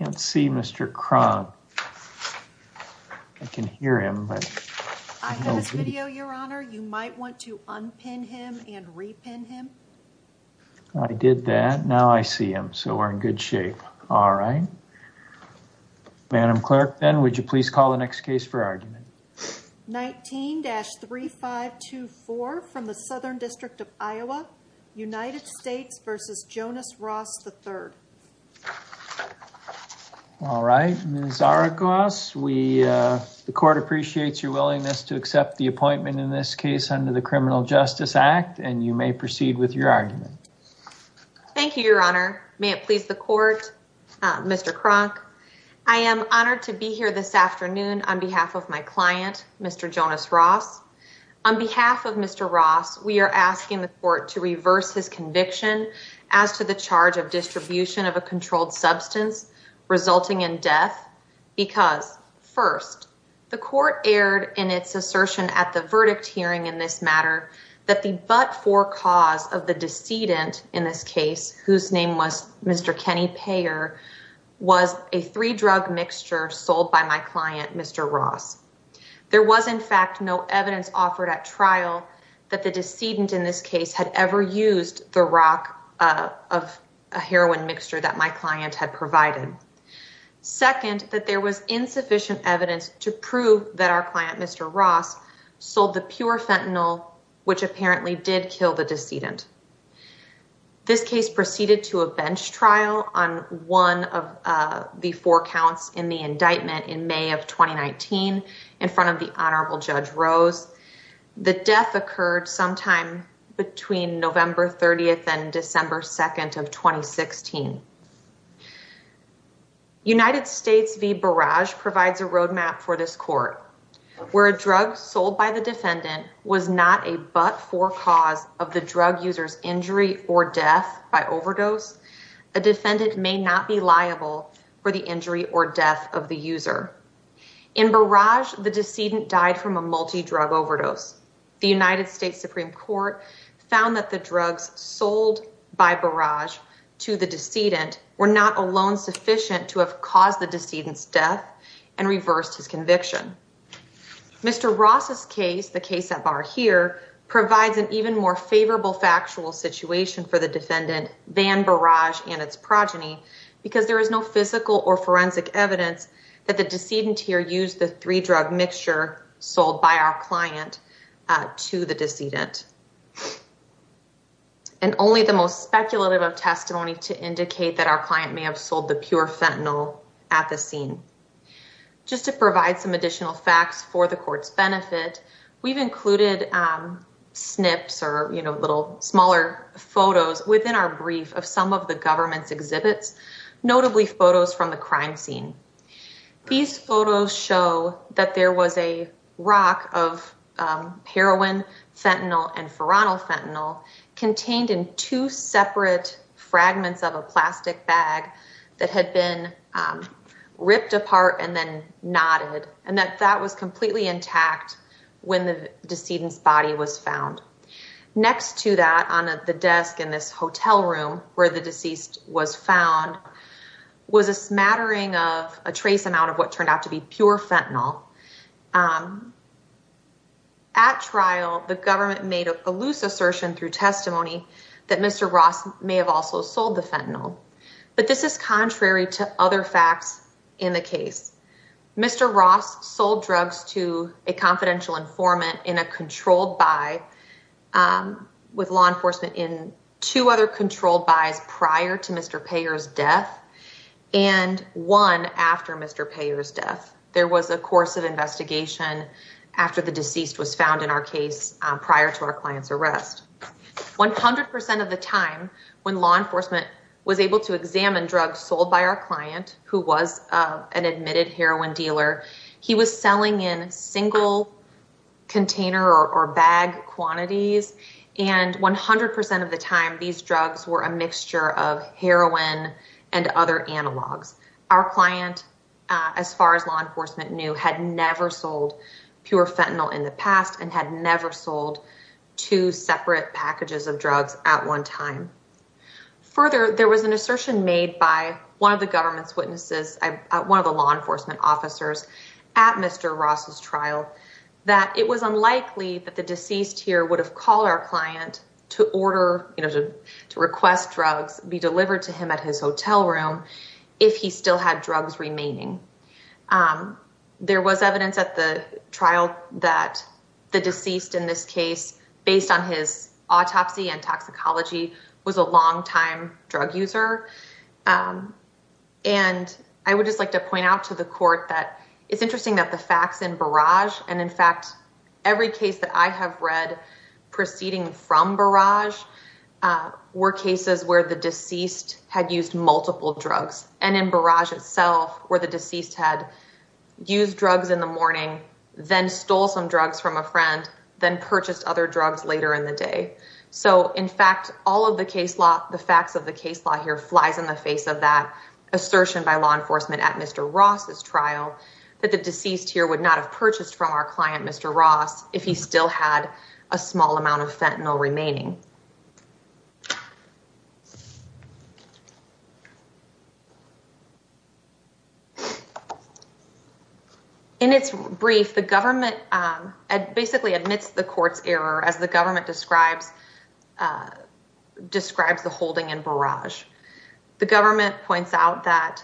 19-3524 from the Southern District of Iowa, United States v. Jonas Ross, III All right, Ms. Aragos, the court appreciates your willingness to accept the appointment in this case under the Criminal Justice Act, and you may proceed with your argument. Thank you, Your Honor. May it please the court, Mr. Cronk. I am honored to be here this afternoon on behalf of my client, Mr. Jonas Ross. On behalf of Mr. Ross, we are asking the court to reverse his conviction as to the charge of distribution of a controlled substance resulting in death because, first, the court erred in its assertion at the verdict hearing in this matter that the but-for cause of the decedent in this case, whose name was Mr. Kenny Payer, was a three-drug mixture sold by my client, Mr. Ross. There was, in fact, no evidence offered at trial that the decedent in this case had ever used the rock of a heroin mixture that my client had provided. Second, that there was insufficient evidence to prove that our client, Mr. Ross, sold the pure fentanyl, which apparently did kill the decedent. This case proceeded to a bench trial on one of the four counts in the indictment in May of 2019 in front of the Honorable Judge Rose. The death occurred sometime between November 30th and December 2nd of 2016. United States v. Barrage provides a roadmap for this court. Where a drug sold by the defendant was not a but-for cause of the drug user's injury or death by overdose, a defendant may not be liable for the injury or death of the user. In Barrage, the decedent died from a multi-drug overdose. The United States Supreme Court found that the drugs sold by Barrage to the decedent were not alone sufficient to have caused the decedent's death and reversed his conviction. Mr. Ross's case, the case at Bar here, provides an even more favorable factual situation for the defendant than Barrage and its progeny because there is no physical or forensic evidence that the decedent here used the three-drug mixture sold by our client to the decedent. And only the most speculative of testimony to indicate that our client may have sold the pure fentanyl at the scene. Just to provide some additional facts for the court's benefit, we've included snips or, you know, little smaller photos within our brief of some of the government's exhibits, notably photos from the crime scene. These photos show that there was a rock of heroin, fentanyl, and nodded and that that was completely intact when the decedent's body was found. Next to that, on the desk in this hotel room where the deceased was found, was a smattering of a trace amount of what turned out to be pure fentanyl. At trial, the government made a loose assertion through testimony that Mr. Ross may have also sold the fentanyl. But this is contrary to other facts in the case. Mr. Ross sold drugs to a confidential informant in a controlled buy with law enforcement in two other controlled buys prior to Mr. Payor's death and one after Mr. Payor's death. There was a course of investigation after the deceased was found in our case prior to our client's arrest. One hundred percent of the time when law enforcement was able to examine drugs sold by our client, who was an admitted heroin dealer, he was selling in single container or bag quantities. And one hundred percent of the time, these drugs were a mixture of heroin and other analogs. Our client, as far as law enforcement knew, had never sold pure fentanyl in the past and had never sold two separate packages of drugs at one time. Further, there was an assertion made by one of the government's witnesses, one of the law enforcement officers at Mr. Ross's trial, that it was unlikely that the deceased here would have called our client to order, to request drugs be delivered to him at his hotel room if he still had drugs remaining. There was evidence at the trial that the deceased in this case, based on his autopsy and toxicology, was a longtime drug user. And I would just like to point out to the court that it's interesting that the facts in Barrage, and in fact, every case that I have read proceeding from Barrage, were cases where the deceased had used multiple drugs and in Barrage itself, where the deceased had used drugs in the morning, then stole some drugs from a friend, then purchased other drugs later in the day. So in fact, all of the facts of the case law here flies in the face of that assertion by law enforcement at Mr. Ross's trial, that the deceased here would not have purchased from our client, Mr. Ross, if he still had a small amount of fentanyl remaining. In its brief, the government basically admits the court's error, as the government describes the holding in Barrage. The government points out that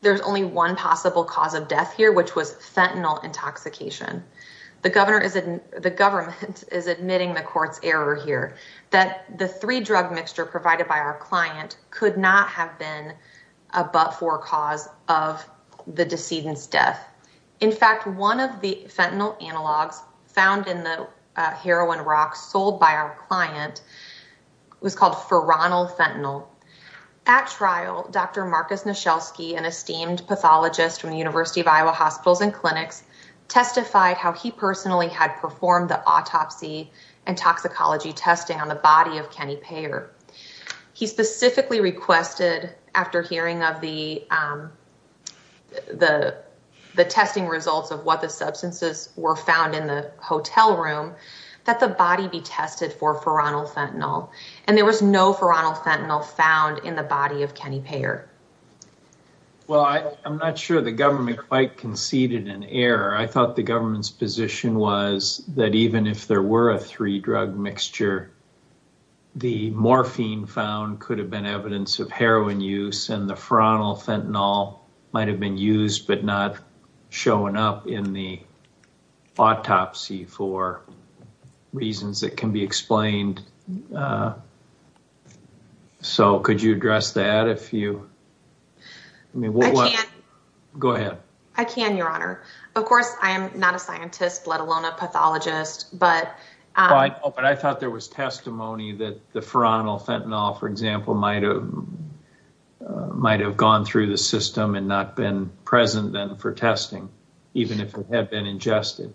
there's only one possible cause of death here, which was fentanyl intoxication. The government is admitting the court's error here, that the three drug mixture provided by our client could not have been a but-for cause of the decedent's death. In fact, one of the fentanyl analogs found in the heroin rocks sold by our client was called Feronil fentanyl. At trial, Dr. Marcus Nasielski, an esteemed pathologist from the University of Iowa Hospitals and Clinics, testified how he personally had performed the autopsy and toxicology testing on the body of Kenny Payer. He specifically requested, after hearing of the testing results of what the substances were found in the hotel room, that the body be tested for Feronil fentanyl, and there was no Feronil fentanyl found in the body of Kenny Payer. Well, I'm not sure the government quite conceded an error. I thought the government's position was that even if there were a three drug mixture, the morphine found could have been evidence of heroin use, and the Feronil fentanyl might have been used but not shown up in the autopsy for reasons that can be explained. I can, Your Honor. Of course, I am not a scientist, let alone a pathologist. I thought there was testimony that the Feronil fentanyl, for example, might have gone through the system and not been present then for testing, even if it had been ingested.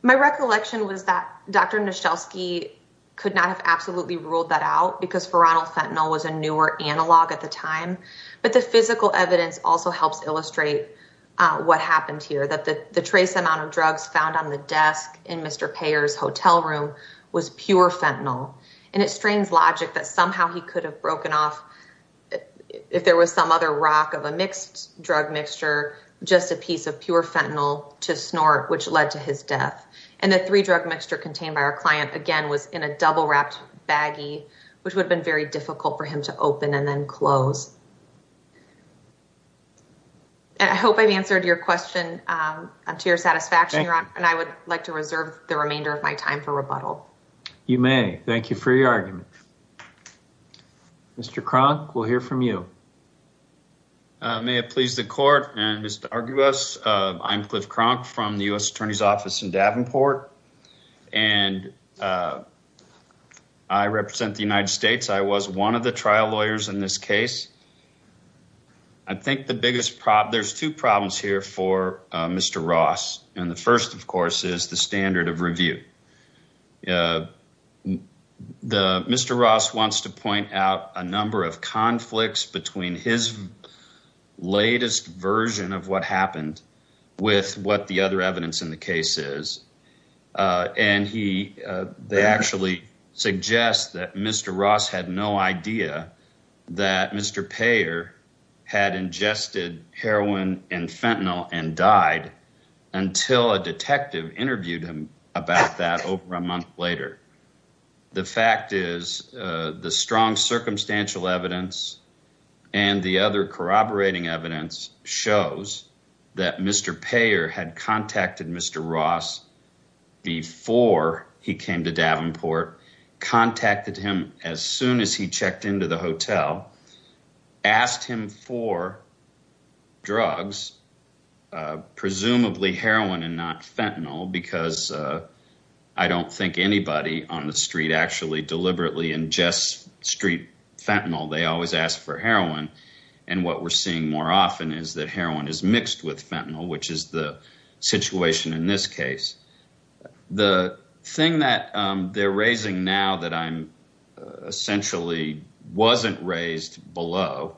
My recollection was that Dr. Nashelski could not have absolutely ruled that out because Feronil fentanyl was a newer analog at the time, but the physical evidence also helps illustrate what happened here, that the trace amount of drugs found on the desk in Mr. Payer's hotel room was pure fentanyl, and it strains logic that somehow he could have broken off, if there was some other rock of a mixed drug mixture, just a piece of pure fentanyl to snort, which led to his death. And the three-drug mixture contained by our client, again, was in a double-wrapped baggie, which would have been very difficult for him to open and then close. And I hope I've answered your question to your satisfaction, Your Honor, and I would like to reserve the remainder of my time for rebuttal. You may. Thank you for your argument. Mr. Kronk, we'll hear from you. May it please the Court and Mr. Argibus, I'm Cliff Kronk from the U.S. Attorney's Office in Davenport, and I represent the United States. I was one of the trial lawyers in this case. I think the biggest problem, there's two problems here for Mr. Ross, and the first, of course, is the standard of review. Mr. Ross wants to point out a number of conflicts between his latest version of what happened with what the other evidence in the case is, and he actually suggests that Mr. Ross had no idea that Mr. Payer had ingested heroin and fentanyl and died until a detective interviewed him about that over a month later. The fact is, the strong circumstantial evidence and the other corroborating evidence shows that Mr. Payer had contacted Mr. Ross before he came to Davenport, contacted him as soon as he checked into the hotel, asked him for drugs, presumably heroin and not fentanyl, because I don't think anybody on the street actually deliberately ingests street fentanyl. They always ask for heroin, and what we're seeing more often is that heroin is mixed with fentanyl, which is the situation in this case. The thing that they're raising now that I'm essentially wasn't raised below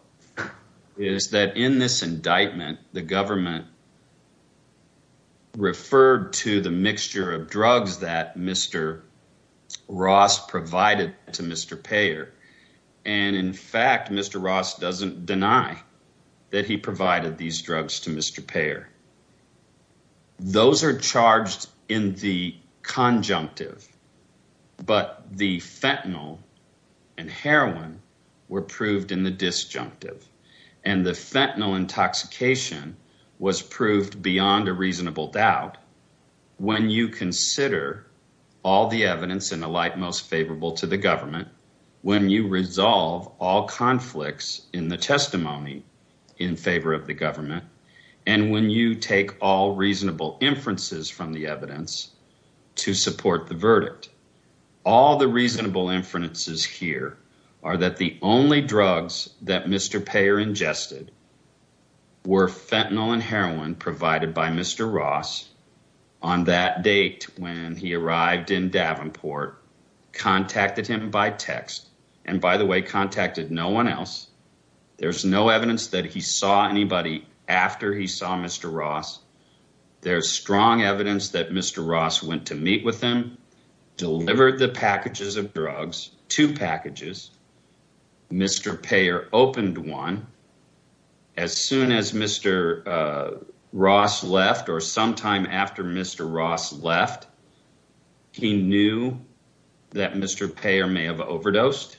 is that in this indictment, the government referred to the mixture of drugs that Mr. Ross provided to Mr. Payer, and in fact, Mr. Ross doesn't deny that he provided these drugs to Mr. Payer. The fentanyl intoxication was proved beyond a reasonable doubt when you consider all the evidence in the light most favorable to the government, when you resolve all conflicts in the testimony in favor of the government, and when you take all reasonable inferences from the that Mr. Payer ingested were fentanyl and heroin provided by Mr. Ross on that date when he arrived in Davenport, contacted him by text, and by the way, contacted no one else. There's no evidence that he saw anybody after he saw Mr. Ross. There's strong evidence that Mr. Ross went to meet with him, delivered the packages of drugs, two packages. Mr. Payer opened one. As soon as Mr. Ross left or sometime after Mr. Ross left, he knew that Mr. Payer may have overdosed.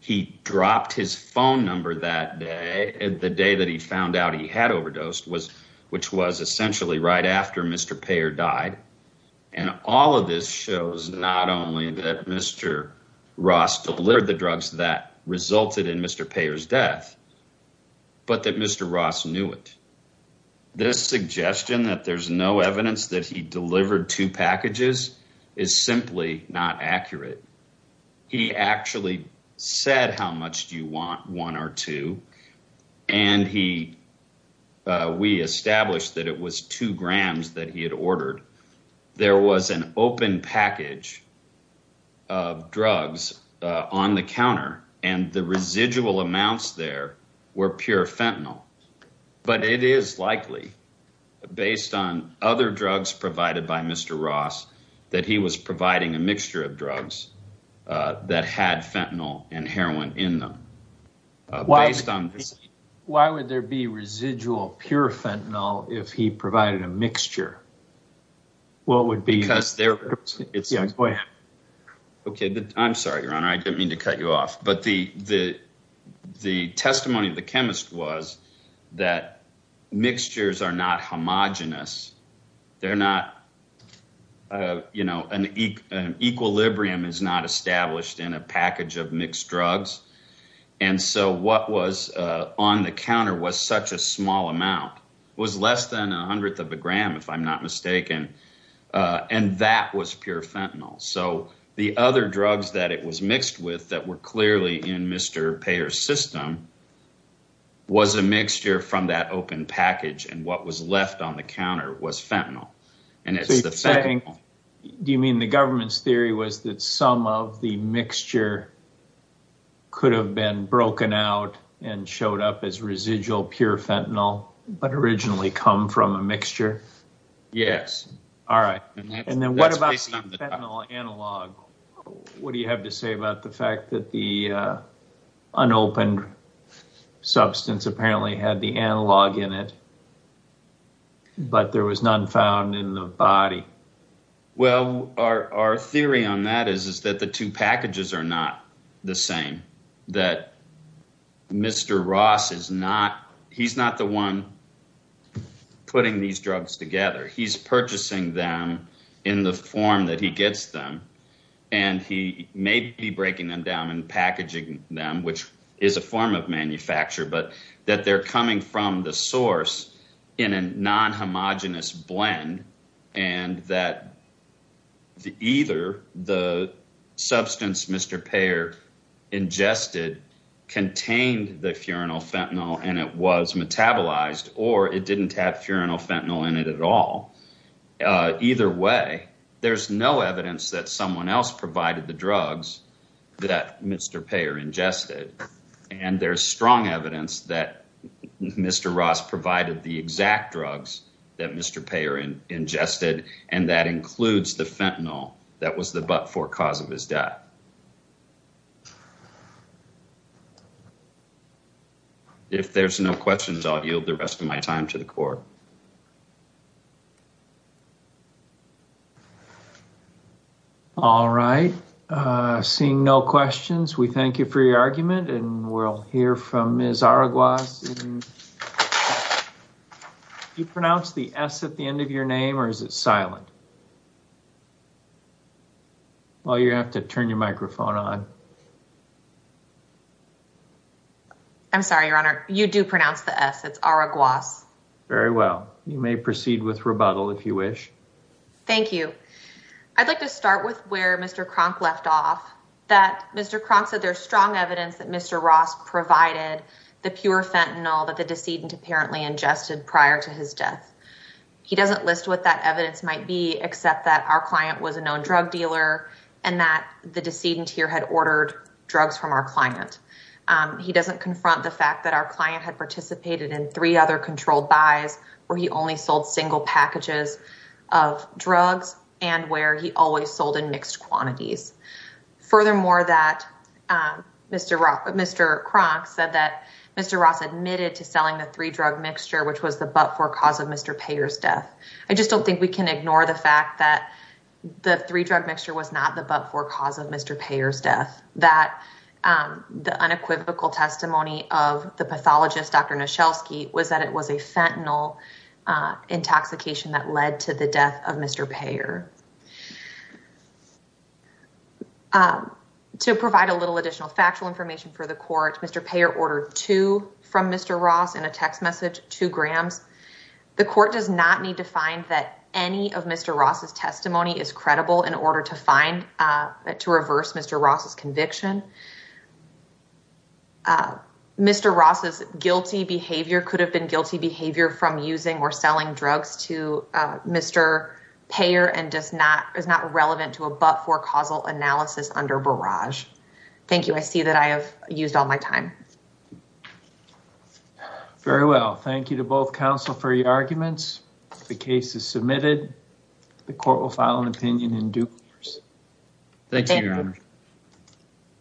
He dropped his phone number that day, the day that he found out he had overdosed, which was essentially right after Mr. Payer died, and all of this shows not only that Mr. Ross delivered the drugs that resulted in Mr. Payer's death, but that Mr. Ross knew it. This suggestion that there's no evidence that he delivered two packages is simply not accurate. He actually said, how much do you want, one or two, and we established that it was two grams that he had ordered. There was an open package of drugs on the counter and the residual amounts there were pure fentanyl, but it is likely based on other drugs provided by Mr. Ross that he was providing a mixture of drugs that had fentanyl and heroin in them. Why would there be residual pure fentanyl if he provided a mixture? I'm sorry, Your Honor, I didn't mean to cut you off, but the testimony of the chemist was that mixtures are not homogenous. Equilibrium is not established in a package of mixed drugs, and so what was on the counter was such a small amount. It was less than a hundredth of a gram, if I'm not mistaken, and that was pure fentanyl. The other drugs that it was mixed with that were that open package, and what was left on the counter was fentanyl. Do you mean the government's theory was that some of the mixture could have been broken out and showed up as residual pure fentanyl, but originally come from a mixture? Yes. All right, and then what about fentanyl analog? What do you have to say about the fact that the unopened substance apparently had the analog in it, but there was none found in the body? Well, our theory on that is that the two packages are not the same, that Mr. Ross is not the one putting these drugs together. He's purchasing them in the form that he gets them, and he may be breaking them down and packaging them, which is a form of manufacture, but that they're coming from the source in a non-homogenous blend, and that either the substance Mr. Payer ingested contained the furanol fentanyl, and it was metabolized, or it didn't have furanol fentanyl in it at all. Either way, there's no evidence that someone else provided the drugs that Mr. Payer ingested, and there's strong evidence that Mr. Ross provided the exact drugs that Mr. Payer ingested, and that includes the fentanyl that was the but-for cause of his death. If there's no questions, I'll yield the rest of my time to the court. All right. Seeing no questions, we thank you for your argument, and we'll hear from Ms. Araguas. Do you pronounce the S at the end of your name, or is it silent? Well, you have to turn your microphone on. I'm sorry, Your Honor. You do pronounce the S. It's Araguas. Very well. You may proceed with rebuttal, if you wish. Thank you. I'd like to start with where Mr. Kronk left off, that Mr. Kronk said there's strong evidence that Mr. Ross provided the pure fentanyl that the decedent apparently ingested prior to his death. He doesn't list what that evidence might be, except that our client was a known drug dealer, and that the decedent here had ordered drugs from our client. He doesn't confront the fact that our client had participated in three other controlled buys, where he only sold single packages of drugs, and where he always sold in mixed quantities. Furthermore, Mr. Kronk said that Mr. Ross admitted to selling the three-drug mixture, which was the but-for cause of Mr. Payer's death. I just don't think we can ignore the fact that the three-drug mixture was not the but-for cause of Mr. Payer's death, that the unequivocal testimony of the pathologist, Dr. Noshelsky, was that it was a fentanyl intoxication that led to the death of Mr. Payer. To provide a little additional factual information for the court, Mr. Payer ordered two from Mr. Ross in a text message, two grams. The court does not need to find that any of Mr. Ross's testimony is to reverse Mr. Ross's conviction. Mr. Ross's guilty behavior could have been guilty behavior from using or selling drugs to Mr. Payer, and is not relevant to a but-for causal analysis under barrage. Thank you. I see that I have used all my time. Very well. Thank you to both counsel for your arguments. The case is submitted. The court will file an opinion in due course. Thank you, Your Honor.